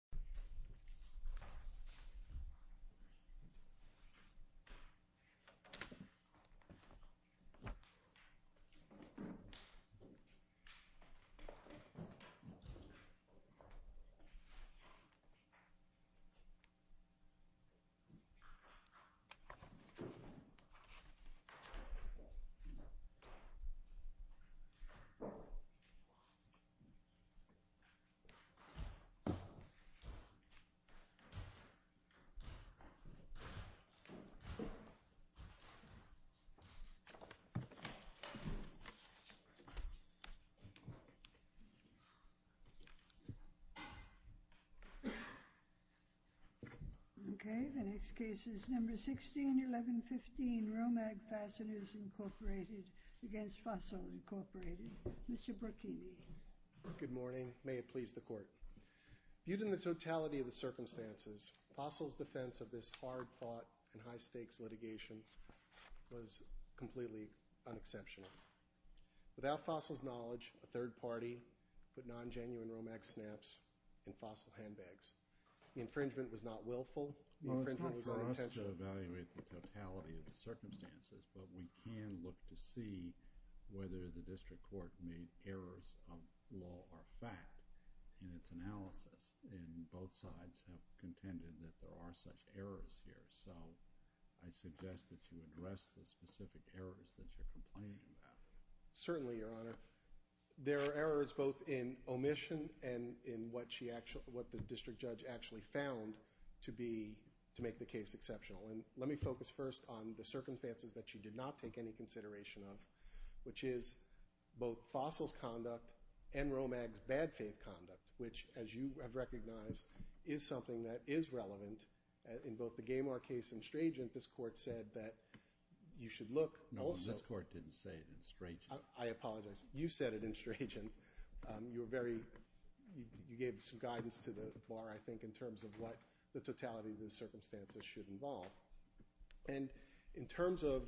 Fasteners, Inc. v. Fossil, Inc. Okay, the next case is number 161115, Romag Fasteners, Inc. v. Fossil, Inc. Mr. Brucki. Good morning. May it please the Court. Viewed in the totality of the circumstances, Fossil's defense of this hard-fought and high-stakes litigation was completely unexceptional. Without Fossil's knowledge, a third party put non-genuine Romag snaps in Fossil handbags. The infringement was not willful. The infringement was unintentional. Well, it's not for us to evaluate the totality of the circumstances, but we can look to see whether the district court made errors of law or fact in its analysis, and both sides have contended that there are such errors here. So I suggest that you address the specific errors that you're complaining about. Certainly, Your Honor. There are errors both in omission and in what the district judge actually found to make the case exceptional. And let me focus first on the circumstances that you did not take any consideration of, which is both Fossil's conduct and Romag's bad faith conduct, which, as you have recognized, is something that is relevant. In both the Gamar case and Straygeon, this Court said that you should look also – No, this Court didn't say it in Straygeon. I apologize. You said it in Straygeon. You gave some guidance to the Bar, I think, in terms of what the totality of the circumstances should involve. And in terms of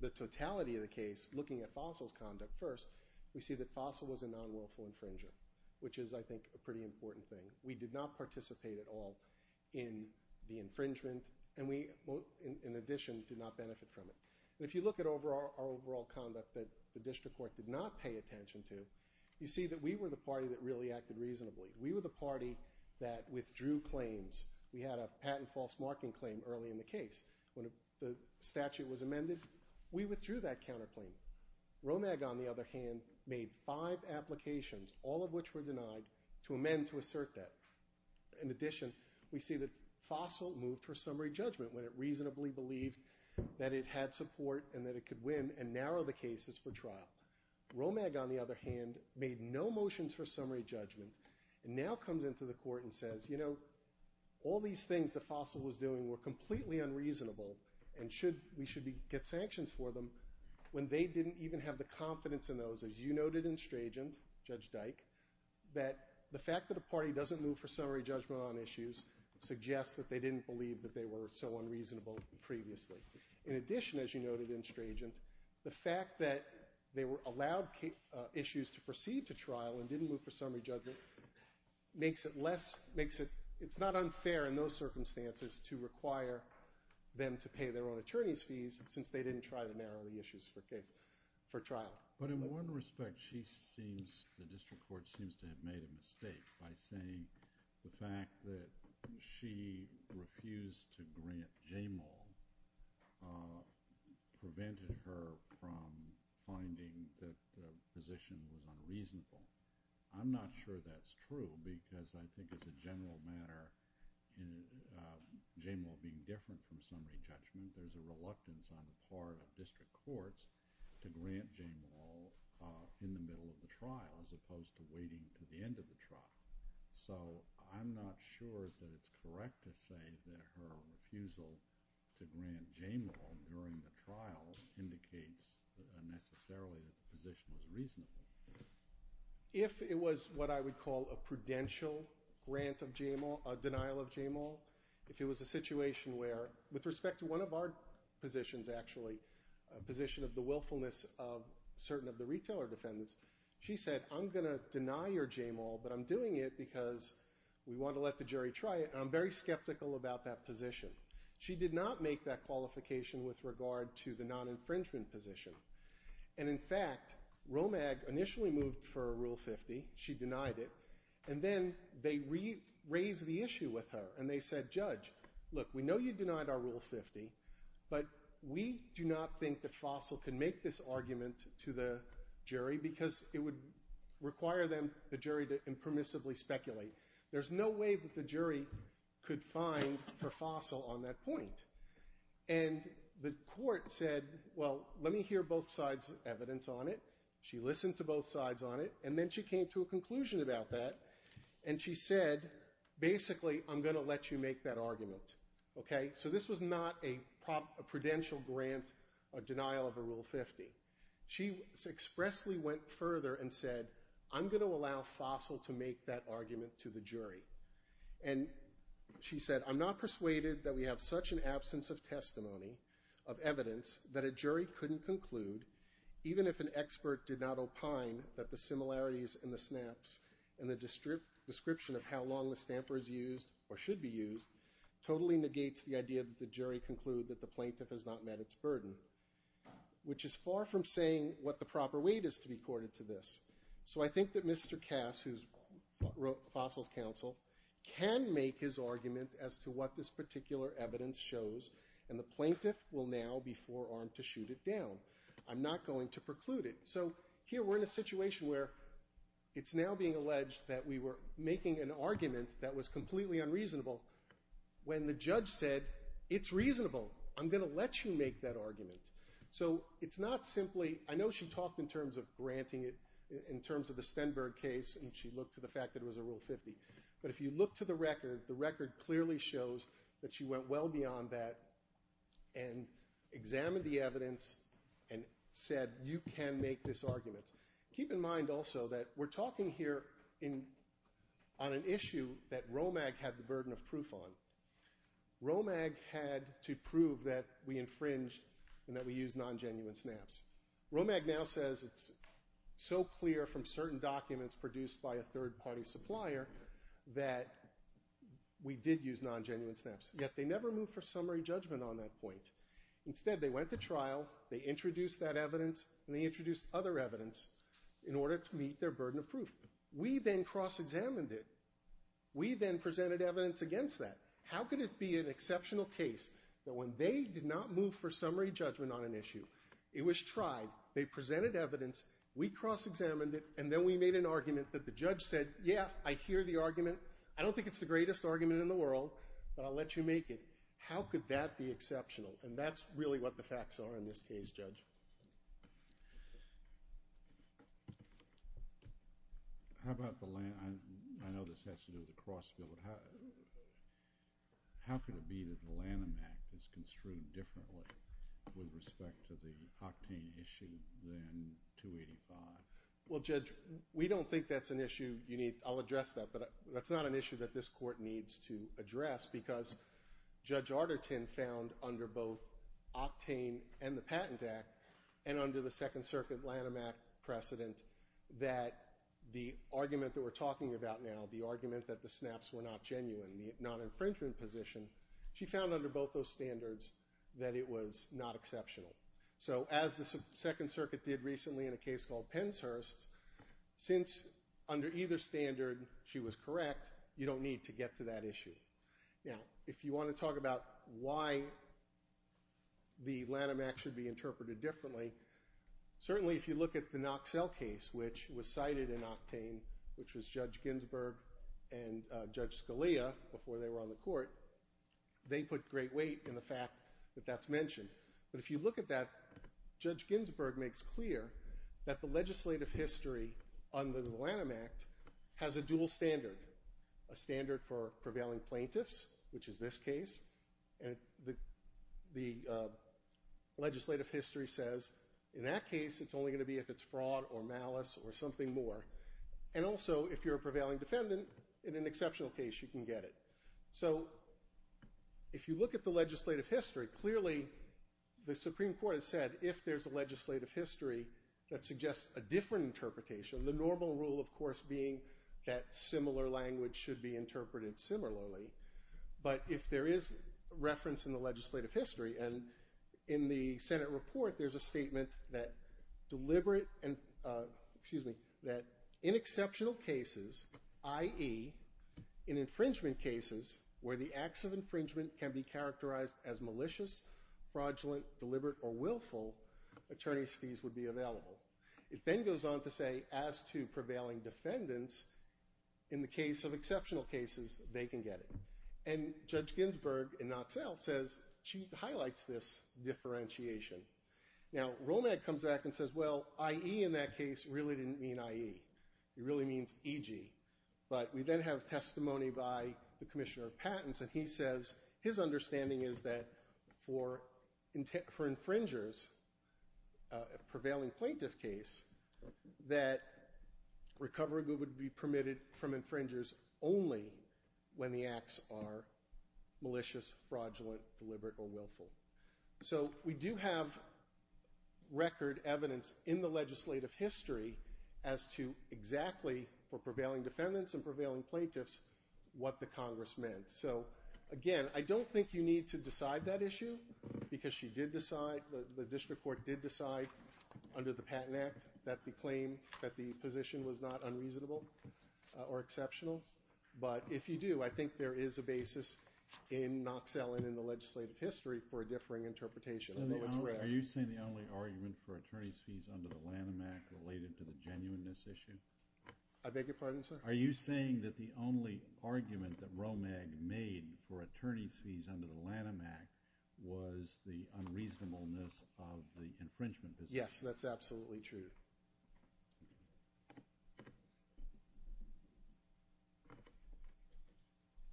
the totality of the case, looking at Fossil's conduct first, we see that Fossil was a non-willful infringer, which is, I think, a pretty important thing. We did not participate at all in the infringement, and we, in addition, did not benefit from it. If you look at our overall conduct that the district court did not pay attention to, you see that we were the party that really acted reasonably. We were the party that withdrew claims. We had a patent false marking claim early in the case. When the statute was amended, we withdrew that counterclaim. Romag, on the other hand, made five applications, all of which were denied, to amend to assert that. In addition, we see that Fossil moved for summary judgment when it reasonably believed that it had support and that it could win and narrow the cases for trial. Romag, on the other hand, made no motions for summary judgment and now comes into the court and says, you know, all these things that Fossil was doing were completely unreasonable and we should get sanctions for them when they didn't even have the confidence in those. As you noted in Strajan, Judge Dyke, that the fact that a party doesn't move for summary judgment on issues suggests that they didn't believe that they were so unreasonable previously. In addition, as you noted in Strajan, the fact that they were allowed issues to proceed to trial and didn't move for summary judgment makes it less – makes it – it's not unfair in those circumstances to require them to pay their own attorney's fees since they didn't try to narrow the issues for trial. But in one respect, she seems – the district court seems to have made a mistake by saying the fact that she refused to grant Jamal prevented her from finding that the position was unreasonable. I'm not sure that's true because I think it's a general matter in Jamal being different from summary judgment. There's a reluctance on the part of district courts to grant Jamal in the middle of the trial as opposed to waiting to the end of the trial. So I'm not sure that it's correct to say that her refusal to grant Jamal during the trial indicates that unnecessarily the position was reasonable. If it was what I would call a prudential grant of Jamal, a denial of Jamal, if it was a situation where – with respect to one of our positions actually, a position of the willfulness of certain of the retailer defendants, she said, I'm going to deny your Jamal, but I'm doing it because we want to let the jury try it. And I'm very skeptical about that position. She did not make that qualification with regard to the non-infringement position. And in fact, Romag initially moved for a Rule 50. She denied it. And then they raised the issue with her, and they said, Judge, look, we know you denied our Rule 50, but we do not think that Fossil can make this argument to the jury because it would require them, the jury, to impermissibly speculate. There's no way that the jury could find for Fossil on that point. And the court said, well, let me hear both sides' evidence on it. She listened to both sides on it, and then she came to a conclusion about that. And she said, basically, I'm going to let you make that argument. So this was not a prudential grant or denial of a Rule 50. She expressly went further and said, I'm going to allow Fossil to make that argument to the jury. And she said, I'm not persuaded that we have such an absence of testimony, of evidence, that a jury couldn't conclude, even if an expert did not opine that the similarities in the snaps and the description of how long the stamper is used or should be used totally negates the idea that the jury conclude that the plaintiff has not met its burden, which is far from saying what the proper weight is to be accorded to this. So I think that Mr. Cass, who wrote Fossil's counsel, can make his argument as to what this particular evidence shows, and the plaintiff will now be forearmed to shoot it down. I'm not going to preclude it. So here we're in a situation where it's now being alleged that we were making an argument that was completely unreasonable when the judge said, it's reasonable. I'm going to let you make that argument. So it's not simply – I know she talked in terms of granting it, in terms of the Stenberg case, and she looked to the fact that it was a Rule 50. But if you look to the record, the record clearly shows that she went well beyond that and examined the evidence and said, you can make this argument. Keep in mind also that we're talking here on an issue that Romag had the burden of proof on. Romag had to prove that we infringe and that we use non-genuine stamps. Romag now says it's so clear from certain documents produced by a third-party supplier that we did use non-genuine stamps. Yet they never moved for summary judgment on that point. Instead, they went to trial, they introduced that evidence, and they introduced other evidence in order to meet their burden of proof. We then cross-examined it. We then presented evidence against that. How could it be an exceptional case that when they did not move for summary judgment on an issue, it was tried, they presented evidence, we cross-examined it, and then we made an argument that the judge said, yeah, I hear the argument. I don't think it's the greatest argument in the world, but I'll let you make it. How could that be exceptional? And that's really what the facts are in this case, Judge. How about the Lanham Act? I know this has to do with the Crossfield. How could it be that the Lanham Act is construed differently with respect to the Octane issue than 285? Well, Judge, we don't think that's an issue you need. I'll address that, but that's not an issue that this Court needs to address because Judge Arterton found under both Octane and the Patent Act and under the Second Circuit Lanham Act precedent that the argument that we're talking about now, the argument that the snaps were not genuine, the non-infringement position, she found under both those standards that it was not exceptional. So as the Second Circuit did recently in a case called Penshurst, since under either standard she was correct, you don't need to get to that issue. Now, if you want to talk about why the Lanham Act should be interpreted differently, certainly if you look at the Knoxell case, which was cited in Octane, which was Judge Ginsburg and Judge Scalia before they were on the Court, they put great weight in the fact that that's mentioned. But if you look at that, Judge Ginsburg makes clear that the legislative history under the Lanham Act has a dual standard, a standard for prevailing plaintiffs, which is this case. And the legislative history says in that case it's only going to be if it's fraud or malice or something more. And also if you're a prevailing defendant, in an exceptional case you can get it. So if you look at the legislative history, clearly the Supreme Court has said if there's a legislative history that suggests a different interpretation, the normal rule, of course, being that similar language should be interpreted similarly. But if there is reference in the legislative history, and in the Senate report there's a statement that in exceptional cases, i.e. in infringement cases where the acts of infringement can be characterized as malicious, fraudulent, deliberate, or willful, attorney's fees would be available. It then goes on to say as to prevailing defendants, in the case of exceptional cases, they can get it. And Judge Ginsburg in Knoxell says she highlights this differentiation. Now, Romag comes back and says, well, i.e. in that case really didn't mean i.e. It really means e.g. But we then have testimony by the Commissioner of Patents, and he says his understanding is that for infringers, a prevailing plaintiff case, that recovery would be permitted from infringers only when the acts are malicious, fraudulent, deliberate, or willful. So we do have record evidence in the legislative history as to exactly, for prevailing defendants and prevailing plaintiffs, what the Congress meant. So again, I don't think you need to decide that issue because she did decide, the district court did decide under the Patent Act that the claim, that the position was not unreasonable or exceptional. But if you do, I think there is a basis in Knoxell and in the legislative history for a differing interpretation. I know it's rare. Are you saying the only argument for attorney's fees under the Lanham Act related to the genuineness issue? I beg your pardon, sir? Are you saying that the only argument that Romag made for attorney's fees under the Lanham Act was the unreasonableness of the infringement? Yes, that's absolutely true. Thank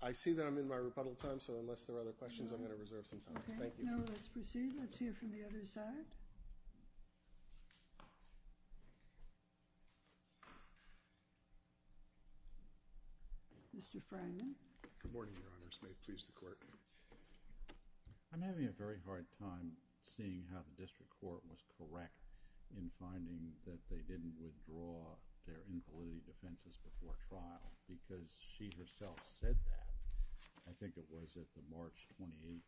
you. I see that I'm in my rebuttal time, so unless there are other questions, I'm going to reserve some time. Thank you. Okay, now let's proceed. Let's hear from the other side. Mr. Fragman. Good morning, Your Honors. May it please the Court. I'm having a very hard time seeing how the district court was correct in finding that they didn't withdraw their inquiry defenses before trial because she herself said that. I think it was at the March 28th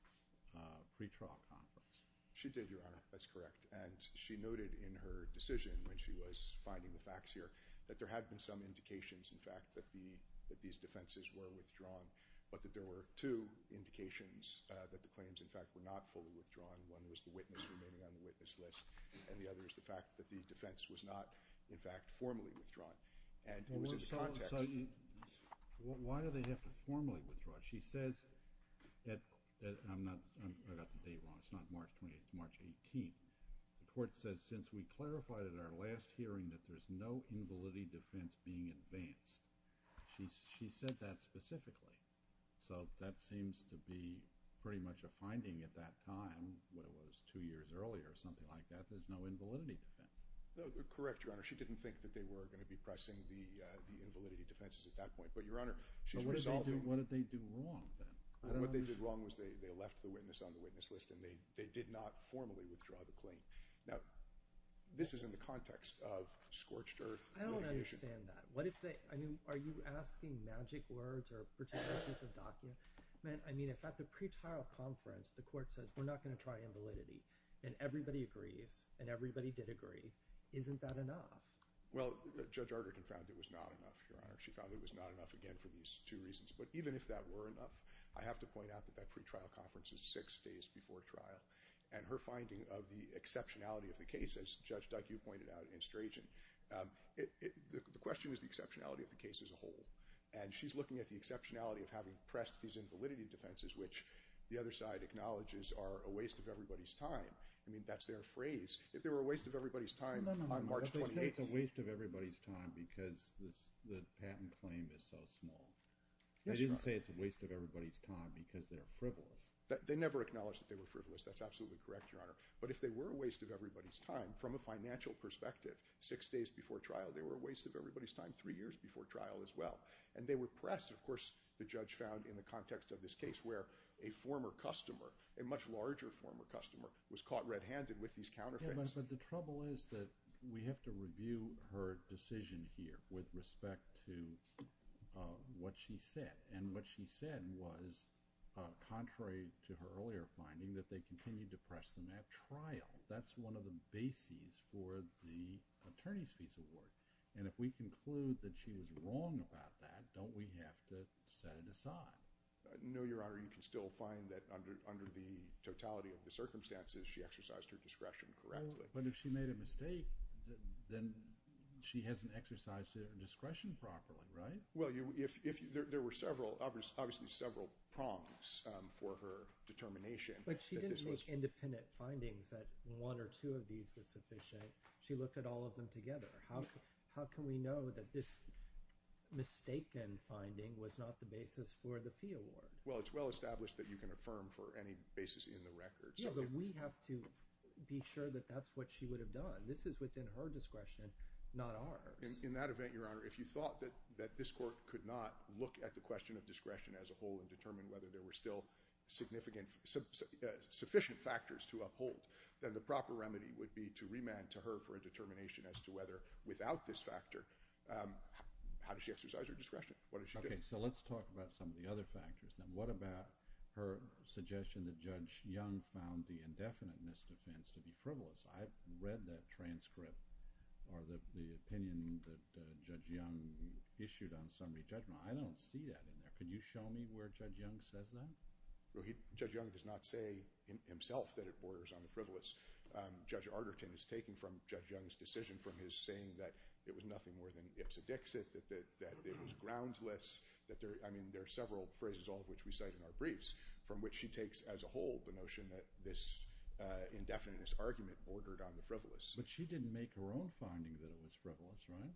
pretrial conference. She did, Your Honor. That's correct. And she noted in her decision when she was finding the facts here that there had been some indications, in fact, that these defenses were withdrawn, but that there were two indications that the claims, in fact, were not fully withdrawn. One was the witness remaining on the witness list, and the other is the fact that the defense was not, in fact, formally withdrawn. And it was in the context— So why do they have to formally withdraw? She says that—I got the date wrong. It's not March 28th. It's March 18th. The Court says, since we clarified at our last hearing that there's no invalidity defense being advanced. She said that specifically. So that seems to be pretty much a finding at that time. What was it? Two years earlier, something like that. There's no invalidity defense. Correct, Your Honor. She didn't think that they were going to be pressing the invalidity defenses at that point. But, Your Honor, she's resolving— What did they do wrong, then? What they did wrong was they left the witness on the witness list, and they did not formally withdraw the claim. Now, this is in the context of scorched earth litigation. I don't understand that. What if they—I mean, are you asking magic words or particular piece of document? I mean, if at the pretrial conference the Court says, we're not going to try invalidity, and everybody agrees, and everybody did agree, isn't that enough? Well, Judge Arderton found it was not enough, Your Honor. She found it was not enough, again, for these two reasons. But even if that were enough, I have to point out that that pretrial conference is six days before trial. And her finding of the exceptionality of the case, as Judge Duck, you pointed out, in Strachan, the question is the exceptionality of the case as a whole. And she's looking at the exceptionality of having pressed these invalidity defenses, which the other side acknowledges are a waste of everybody's time. I mean, that's their phrase. If they were a waste of everybody's time on March 28th— No, no, no. Because the patent claim is so small. Yes, Your Honor. I didn't say it's a waste of everybody's time because they're frivolous. They never acknowledged that they were frivolous. That's absolutely correct, Your Honor. But if they were a waste of everybody's time from a financial perspective, six days before trial, they were a waste of everybody's time three years before trial as well. And they were pressed. Of course, the judge found in the context of this case where a former customer, a much larger former customer, was caught red-handed with these counterfeits. But the trouble is that we have to review her decision here with respect to what she said. And what she said was contrary to her earlier finding that they continued to press them at trial. That's one of the bases for the attorney's piece of work. And if we conclude that she was wrong about that, don't we have to set it aside? No, Your Honor. You can still find that under the totality of the circumstances, she exercised her discretion correctly. But if she made a mistake, then she hasn't exercised her discretion properly, right? Well, there were several – obviously, several prongs for her determination. But she didn't make independent findings that one or two of these were sufficient. She looked at all of them together. How can we know that this mistaken finding was not the basis for the P award? Well, it's well established that you can affirm for any basis in the record. No, but we have to be sure that that's what she would have done. This is within her discretion, not ours. In that event, Your Honor, if you thought that this court could not look at the question of discretion as a whole and determine whether there were still significant – sufficient factors to uphold, then the proper remedy would be to remand to her for a determination as to whether without this factor – how did she exercise her discretion? What did she do? Okay. So let's talk about some of the other factors. Now, what about her suggestion that Judge Young found the indefiniteness defense to be frivolous? I've read that transcript or the opinion that Judge Young issued on summary judgment. I don't see that in there. Can you show me where Judge Young says that? Judge Young does not say himself that it borders on the frivolous. Judge Arterton has taken from Judge Young's decision from his saying that it was nothing more than ipso dixit, that it was groundless, that there – I mean, there are several phrases, all of which we cite in our briefs, from which she takes as a whole the notion that this indefiniteness argument bordered on the frivolous. But she didn't make her own finding that it was frivolous, right?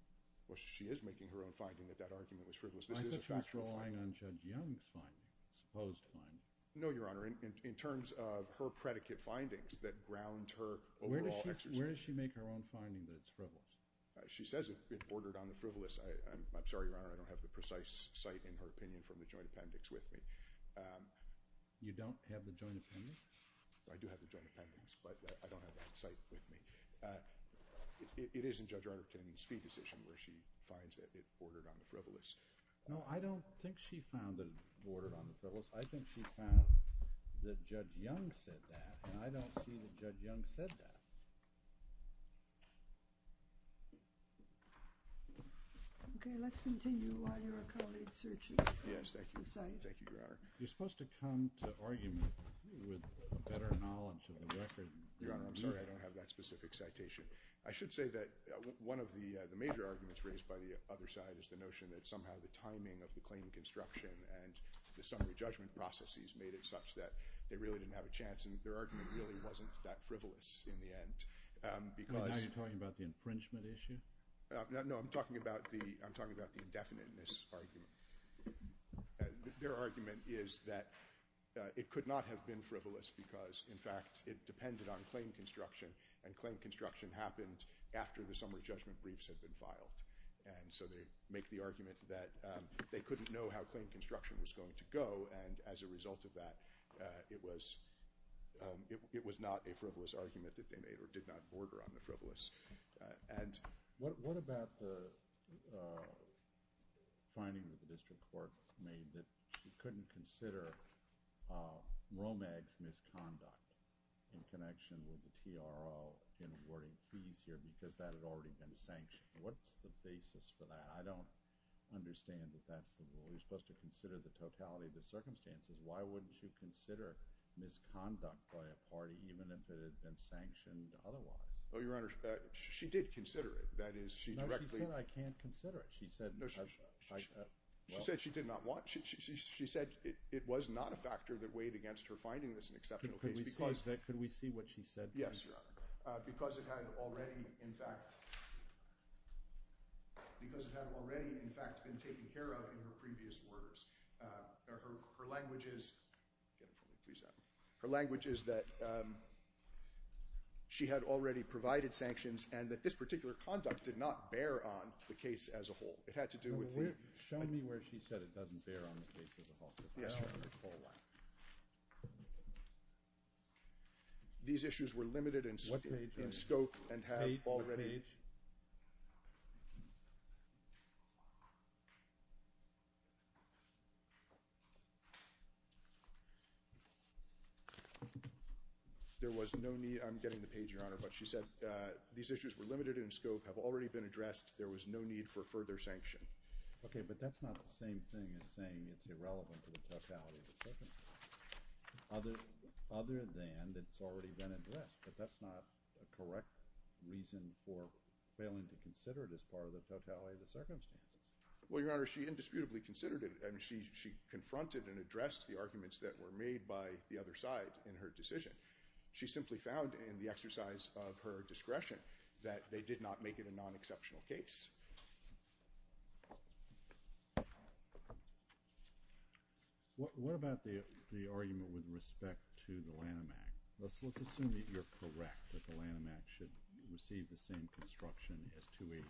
Well, she is making her own finding that that argument was frivolous. This is a factual finding. I thought she was relying on Judge Young's finding, supposed finding. No, Your Honor. In terms of her predicate findings that ground her overall exercise – Where does she make her own finding that it's frivolous? She says it bordered on the frivolous. I'm sorry, Your Honor, I don't have the precise cite in her opinion from the joint appendix with me. You don't have the joint appendix? I do have the joint appendix, but I don't have that cite with me. It is in Judge Arterton's fee decision where she finds that it bordered on the frivolous. No, I don't think she found it bordered on the frivolous. I think she found that Judge Young said that, and I don't see that Judge Young said that. Okay. Let's continue while you're accommodating searches. Yes, thank you. Thank you, Your Honor. You're supposed to come to argument with better knowledge of the record. Your Honor, I'm sorry I don't have that specific citation. I should say that one of the major arguments raised by the other side is the notion that somehow the timing of the claimant construction and the summary judgment processes made it such that they really didn't have a chance, and their argument really wasn't that frivolous in the end. Are you talking about the infringement issue? No, I'm talking about the indefiniteness argument. Their argument is that it could not have been frivolous because, in fact, it depended on claim construction, and claim construction happened after the summary judgment briefs had been filed. And so they make the argument that they couldn't know how claim construction was going to go, and as a result of that, it was not a frivolous argument that they made or did not border on the frivolous. What about the finding that the district court made that she couldn't consider Romag's misconduct in connection with the TRL in awarding fees here because that had already been sanctioned? What's the basis for that? I don't understand that that's the rule. She was supposed to consider the totality of the circumstances. Why wouldn't she consider misconduct by a party even if it had been sanctioned otherwise? Oh, Your Honor, she did consider it. That is, she directly— No, she said I can't consider it. She said— No, she said she did not want. She said it was not a factor that weighed against her finding this an exceptional case because— Could we see what she said, please? Yes, Your Honor. Because it had already, in fact, been taken care of in her previous orders. Her language is that she had already provided sanctions and that this particular conduct did not bear on the case as a whole. It had to do with the— Show me where she said it doesn't bear on the case as a whole. Yes, Your Honor. These issues were limited in scope and have already— What page? Page? What page? There was no need—I'm getting the page, Your Honor. But she said these issues were limited in scope, have already been addressed. There was no need for further sanction. Okay, but that's not the same thing as saying it's irrelevant to the totality of the circumstance, other than it's already been addressed. But that's not a correct reason for failing to consider it as part of the totality of the circumstance. Well, Your Honor, she indisputably considered it. I mean she confronted and addressed the arguments that were made by the other side in her decision. She simply found in the exercise of her discretion that they did not make it a non-exceptional case. What about the argument with respect to the Lanham Act? Let's assume that you're correct, that the Lanham Act should receive the same construction as 285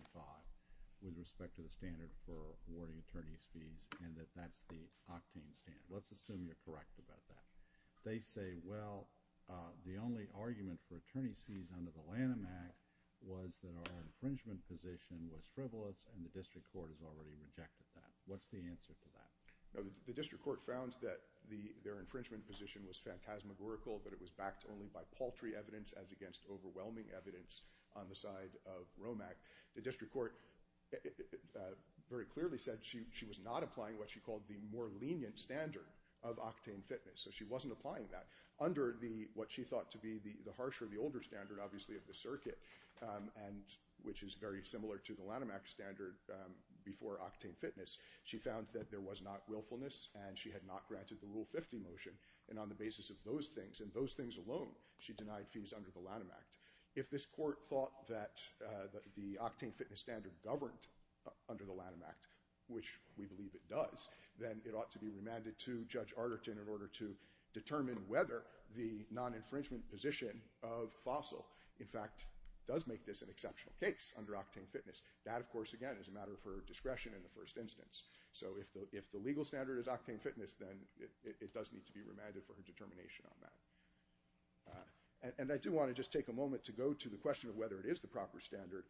with respect to the standard for awarding attorney's fees and that that's the octane standard. Let's assume you're correct about that. They say, well, the only argument for attorney's fees under the Lanham Act was that our infringement position was frivolous and the district court has already rejected that. What's the answer to that? The district court found that their infringement position was phantasmagorical, but it was backed only by paltry evidence as against overwhelming evidence on the side of Rome Act. The district court very clearly said she was not applying what she called the more lenient standard of octane fitness. So she wasn't applying that. Under what she thought to be the harsher, the older standard, obviously, of the circuit, which is very similar to the Lanham Act standard before octane fitness, she found that there was not willfulness and she had not granted the Rule 50 motion. And on the basis of those things, and those things alone, she denied fees under the Lanham Act. If this court thought that the octane fitness standard governed under the Lanham Act, which we believe it does, then it ought to be remanded to Judge Arterton in order to determine whether the non-infringement position of Fossil, in fact, does make this an exceptional case under octane fitness. That, of course, again, is a matter for discretion in the first instance. So if the legal standard is octane fitness, then it does need to be remanded for her determination on that. And I do want to just take a moment to go to the question of whether it is the proper standard.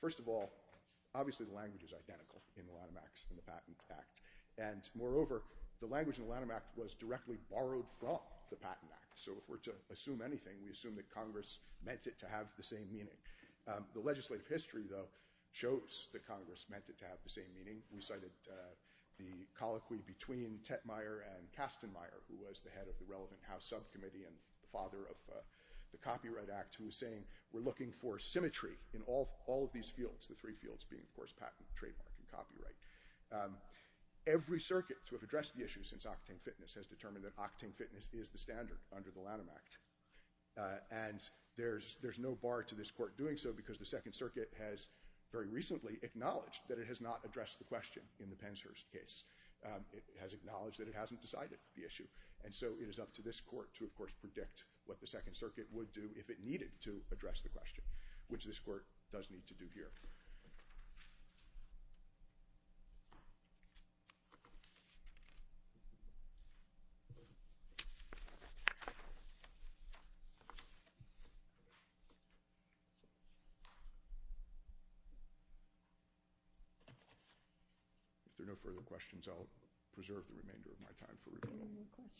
First of all, obviously, the language is identical in the Lanham Act and the Patent Act. And moreover, the language in the Lanham Act was directly borrowed from the Patent Act. So if we're to assume anything, we assume that Congress meant it to have the same meaning. The legislative history, though, shows that Congress meant it to have the same meaning. We cited the colloquy between Tetmeier and Kastenmeier, who was the head of the relevant House subcommittee and the father of the Copyright Act, who was saying, we're looking for symmetry in all of these fields, the three fields being, of course, patent, trademark, and copyright. Every circuit to have addressed the issue since octane fitness has determined that octane fitness is the standard under the Lanham Act. And there's no bar to this court doing so because the Second Circuit has very recently acknowledged that it has not addressed the question in the Penshurst case. It has acknowledged that it hasn't decided the issue. And so it is up to this court to, of course, predict what the Second Circuit would do if it needed to address the question, which this court does need to do here. If there are no further questions, I'll preserve the remainder of my time for rebuttal. Thank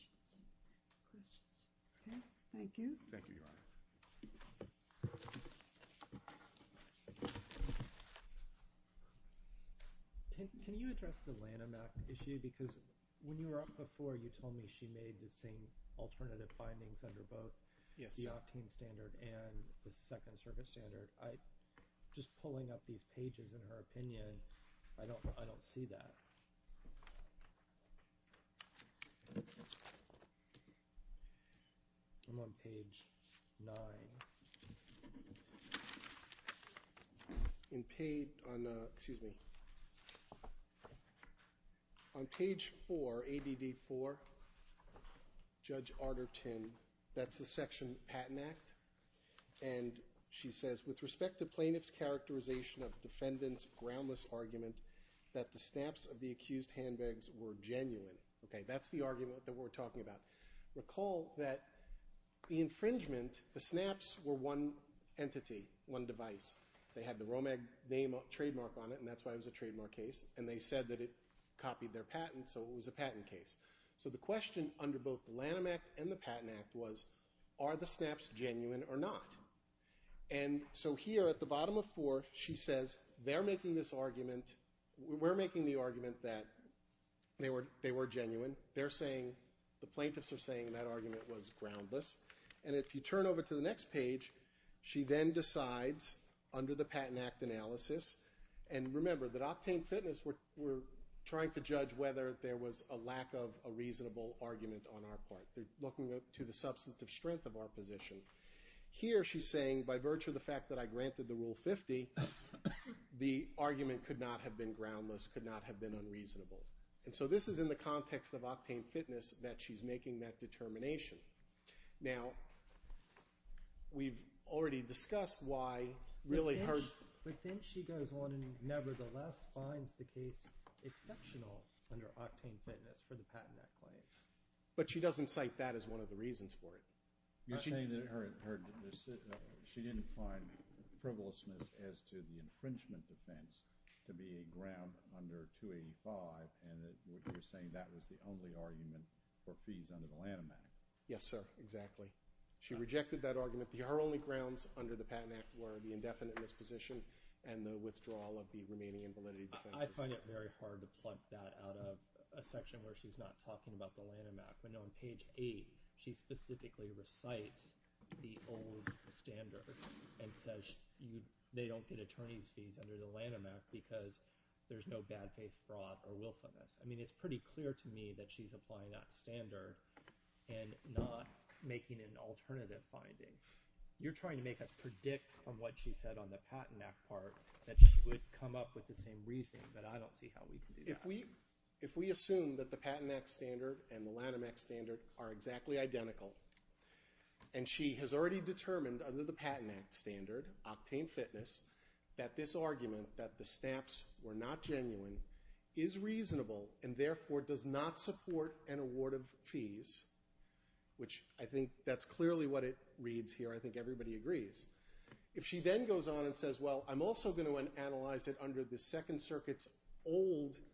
you. Thank you, Your Honor. Can you address the Lanham Act issue? Because when you were up before, you told me she made the same alternative findings under both the octane standard and the Second Circuit standard. Just pulling up these pages in her opinion, I don't see that. I'm on page 9. Excuse me. On page 4, ADD 4, Judge Arterton, that's the Section Patent Act, and she says, with respect to plaintiff's characterization of defendant's groundless argument that the snaps of the accused handbags were genuine. That's the argument that we're talking about. Recall that the infringement, the snaps were one entity, one device. They had the Romeg trademark on it, and that's why it was a trademark case. And they said that it copied their patent, so it was a patent case. So the question under both the Lanham Act and the Patent Act was, are the snaps genuine or not? And so here at the bottom of 4, she says, they're making this argument, we're making the argument that they were genuine. They're saying, the plaintiffs are saying that argument was groundless. And if you turn over to the next page, she then decides under the Patent Act analysis, and remember that Octane Fitness were trying to judge whether there was a lack of a reasonable argument on our part. They're looking to the substantive strength of our position. Here she's saying, by virtue of the fact that I granted the Rule 50, the argument could not have been groundless, could not have been unreasonable. And so this is in the context of Octane Fitness that she's making that determination. Now, we've already discussed why really her – But then she goes on and nevertheless finds the case exceptional under Octane Fitness for the Patent Act claims. But she doesn't cite that as one of the reasons for it. You're saying that her – she didn't find frivolousness as to the infringement defense to be a ground under 285, and you're saying that was the only argument for fees under the Lanham Act. Yes, sir, exactly. She rejected that argument. Her only grounds under the Patent Act were the indefinite misposition and the withdrawal of the remaining invalidity defenses. I find it very hard to pluck that out of a section where she's not talking about the Lanham Act. But on page 8, she specifically recites the old standards and says they don't get attorney's fees under the Lanham Act because there's no bad faith fraud or willfulness. I mean it's pretty clear to me that she's applying that standard and not making an alternative finding. You're trying to make us predict on what she said on the Patent Act part that she would come up with the same reasoning, but I don't see how we can do that. If we assume that the Patent Act standard and the Lanham Act standard are exactly identical and she has already determined under the Patent Act standard, octane fitness, that this argument that the snaps were not genuine is reasonable and therefore does not support an award of fees, which I think that's clearly what it reads here. I think everybody agrees. If she then goes on and says, well, I'm also going to analyze it under the Second Circuit's old –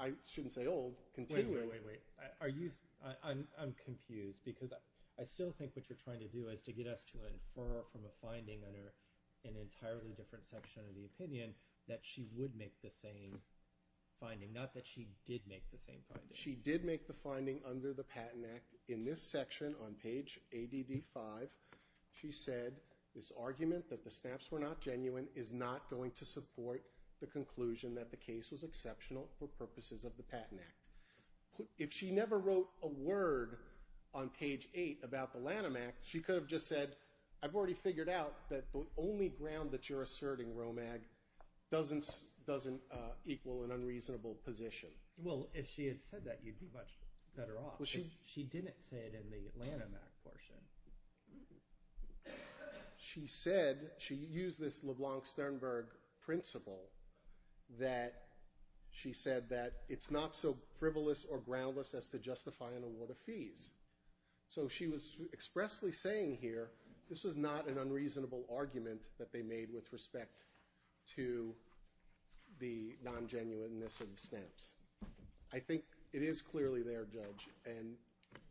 I shouldn't say old, continuing – Wait, wait, wait. Are you – I'm confused because I still think what you're trying to do is to get us to infer from a finding under an entirely different section of the opinion that she would make the same finding, not that she did make the same finding. She did make the finding under the Patent Act. In this section on page ADD5, she said, this argument that the snaps were not genuine is not going to support the conclusion that the case was exceptional for purposes of the Patent Act. If she never wrote a word on page 8 about the Lanham Act, she could have just said, I've already figured out that the only ground that you're asserting, Romag, doesn't equal an unreasonable position. Well, if she had said that, you'd be much better off. She didn't say it in the Lanham Act portion. She said – she used this LeBlanc-Sternberg principle that – she said that it's not so frivolous or groundless as to justify an award of fees. So she was expressly saying here this was not an unreasonable argument that they made with respect to the non-genuineness of the snaps. I think it is clearly there, Judge. And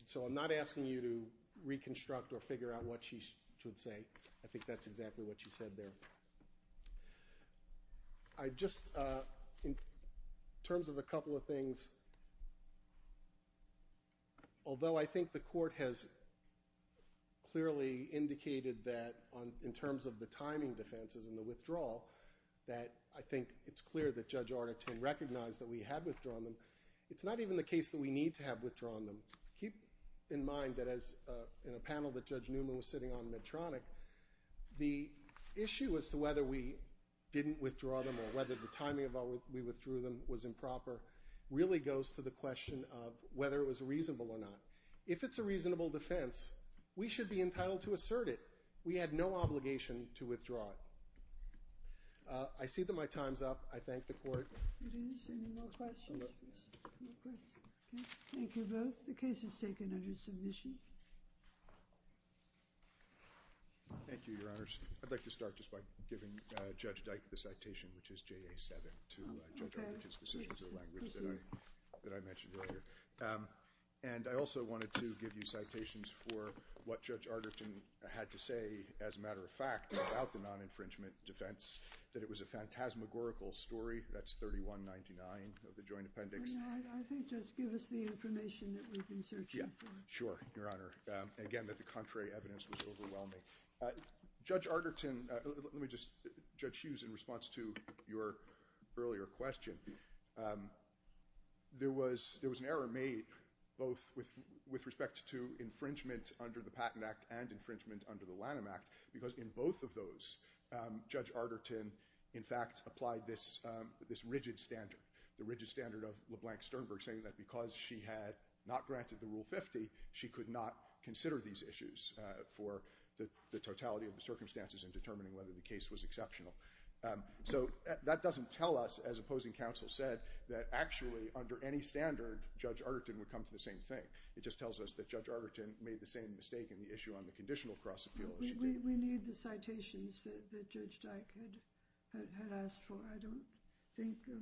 so I'm not asking you to reconstruct or figure out what she should say. I think that's exactly what she said there. I just – in terms of a couple of things, although I think the Court has clearly indicated that in terms of the timing defenses and the withdrawal, that I think it's clear that Judge Arnotin recognized that we had withdrawn them. It's not even the case that we need to have withdrawn them. Keep in mind that in a panel that Judge Newman was sitting on in Medtronic, the issue as to whether we didn't withdraw them or whether the timing of how we withdrew them was improper really goes to the question of whether it was reasonable or not. If it's a reasonable defense, we should be entitled to assert it. We had no obligation to withdraw it. I see that my time's up. I thank the Court. Are there any more questions? No questions. Thank you both. The case is taken under submission. Thank you, Your Honors. I'd like to start just by giving Judge Dyke the citation, which is JA-7, to Judge Arnotin's decisions of language that I mentioned earlier. And I also wanted to give you citations for what Judge Arnotin had to say, as a matter of fact, about the non-infringement defense, that it was a phantasmagorical story. That's 3199 of the Joint Appendix. I think just give us the information that we've been searching for. Sure, Your Honor. Again, that the contrary evidence was overwhelming. Judge Arnotin, let me just, Judge Hughes, in response to your earlier question, there was an error made both with respect to infringement under the Patent Act and infringement under the Lanham Act, because in both of those, Judge Arnotin, in fact, applied this rigid standard, the rigid standard of LeBlanc Sternberg, saying that because she had not granted the Rule 50, she could not consider these issues for the totality of the circumstances in determining whether the case was exceptional. So that doesn't tell us, as opposing counsel said, that actually under any standard, Judge Arnotin would come to the same thing. It just tells us that Judge Arnotin made the same mistake in the issue on the conditional cross-appeal issue. We need the citations that Judge Dyke had asked for. I don't think of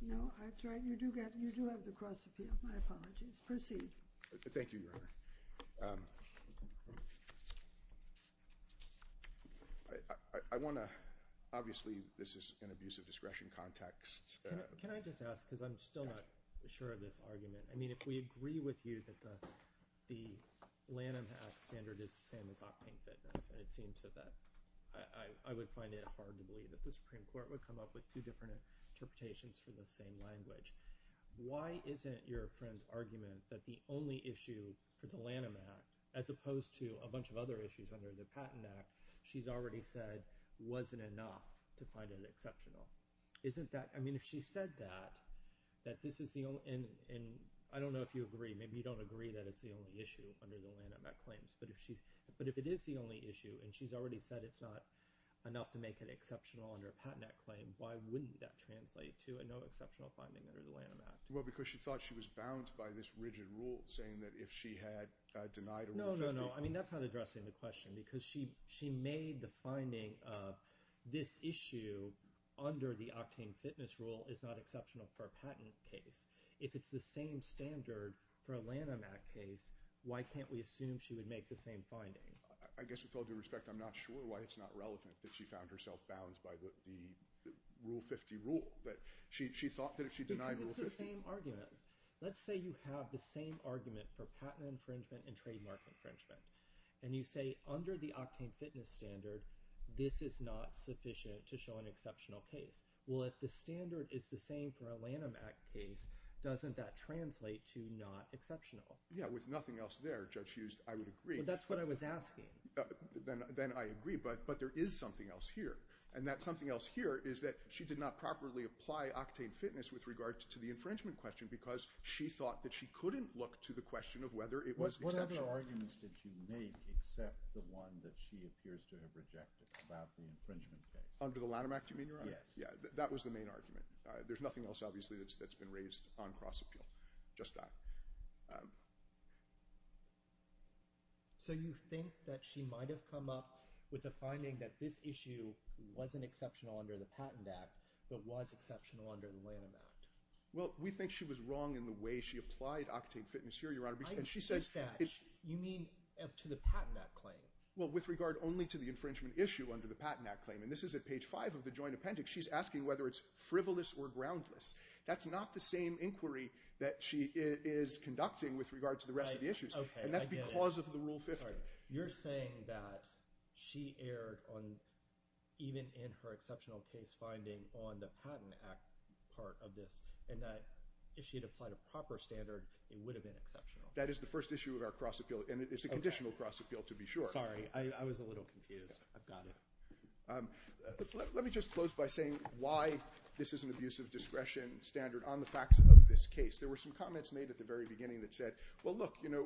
– No, that's right. You do have the cross-appeal. My apologies. Proceed. Thank you, Your Honor. I want to – Obviously, this is an abuse of discretion context. Can I just ask, because I'm still not sure of this argument. I mean, if we agree with you that the Lanham Act standard is the same as Optane Fitness, it seems that I would find it hard to believe that the Supreme Court would come up with two different interpretations for the same language. Why isn't your friend's argument that the only issue for the Lanham Act, as opposed to a bunch of other issues under the Patent Act, she's already said wasn't enough to find it exceptional. Isn't that – I mean, if she said that, that this is the only – and I don't know if you agree. Maybe you don't agree that it's the only issue under the Lanham Act claims. But if it is the only issue and she's already said it's not enough to make it exceptional under a Patent Act claim, why wouldn't that translate to a no exceptional finding under the Lanham Act? Well, because she thought she was bound by this rigid rule saying that if she had denied – No, no, no. I mean, that's not addressing the question because she made the finding of this issue under the Optane Fitness rule is not exceptional for a patent case. If it's the same standard for a Lanham Act case, why can't we assume she would make the same finding? I guess with all due respect, I'm not sure why it's not relevant that she found herself bound by the Rule 50 rule. But she thought that if she denied Rule 50 – Because it's the same argument. Let's say you have the same argument for patent infringement and trademark infringement. And you say under the Optane Fitness standard, this is not sufficient to show an exceptional case. Well, if the standard is the same for a Lanham Act case, doesn't that translate to not exceptional? Yeah, with nothing else there, Judge Hust, I would agree. Well, that's what I was asking. Then I agree. But there is something else here. And that something else here is that she did not properly apply Optane Fitness with regard to the infringement question because she thought that she couldn't look to the question of whether it was exceptional. What other arguments did she make except the one that she appears to have rejected about the infringement case? Under the Lanham Act, you mean? Yes. Yeah, that was the main argument. There's nothing else, obviously, that's been raised on cross-appeal. Just that. So you think that she might have come up with a finding that this issue wasn't exceptional under the Patent Act but was exceptional under the Lanham Act? Well, we think she was wrong in the way she applied Optane Fitness here, Your Honor. I insist that. You mean to the Patent Act claim? Well, with regard only to the infringement issue under the Patent Act claim. And this is at page 5 of the Joint Appendix. She's asking whether it's frivolous or groundless. That's not the same inquiry that she is conducting with regard to the rest of the issues. And that's because of the Rule 50. You're saying that she erred even in her exceptional case finding on the Patent Act part of this and that if she had applied a proper standard, it would have been exceptional. That is the first issue of our cross-appeal, and it's a conditional cross-appeal to be sure. Sorry. I was a little confused. I've got it. Let me just close by saying why this is an abusive discretion standard on the facts of this case. There were some comments made at the very beginning that said, well, look, you know,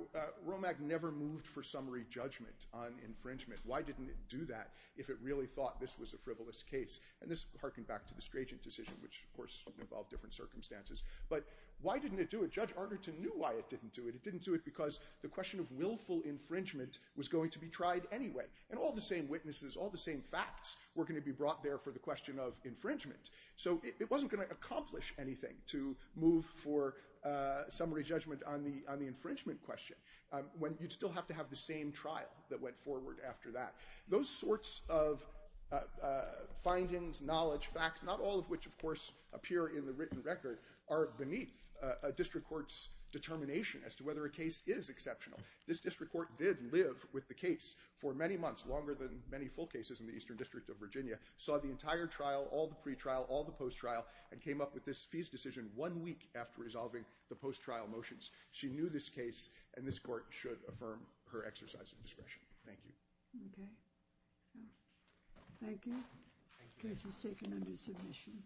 ROMAC never moved for summary judgment on infringement. Why didn't it do that if it really thought this was a frivolous case? And this harkened back to the Strachan decision, which, of course, involved different circumstances. But why didn't it do it? Judge Arnerton knew why it didn't do it. It didn't do it because the question of willful infringement was going to be tried anyway. And all the same witnesses, all the same facts were going to be brought there for the question of infringement. So it wasn't going to accomplish anything to move for summary judgment on the infringement question when you'd still have to have the same trial that went forward after that. Those sorts of findings, knowledge, facts, not all of which, of course, appear in the written record, are beneath a district court's determination as to whether a case is exceptional. This district court did live with the case for many months, longer than many full cases in the Eastern District of Virginia, saw the entire trial, all the pre-trial, all the post-trial, and came up with this fees decision one week after resolving the post-trial motions. She knew this case, and this court should affirm her exercise of discretion. Thank you. Okay. Thank you. The case is taken under submission.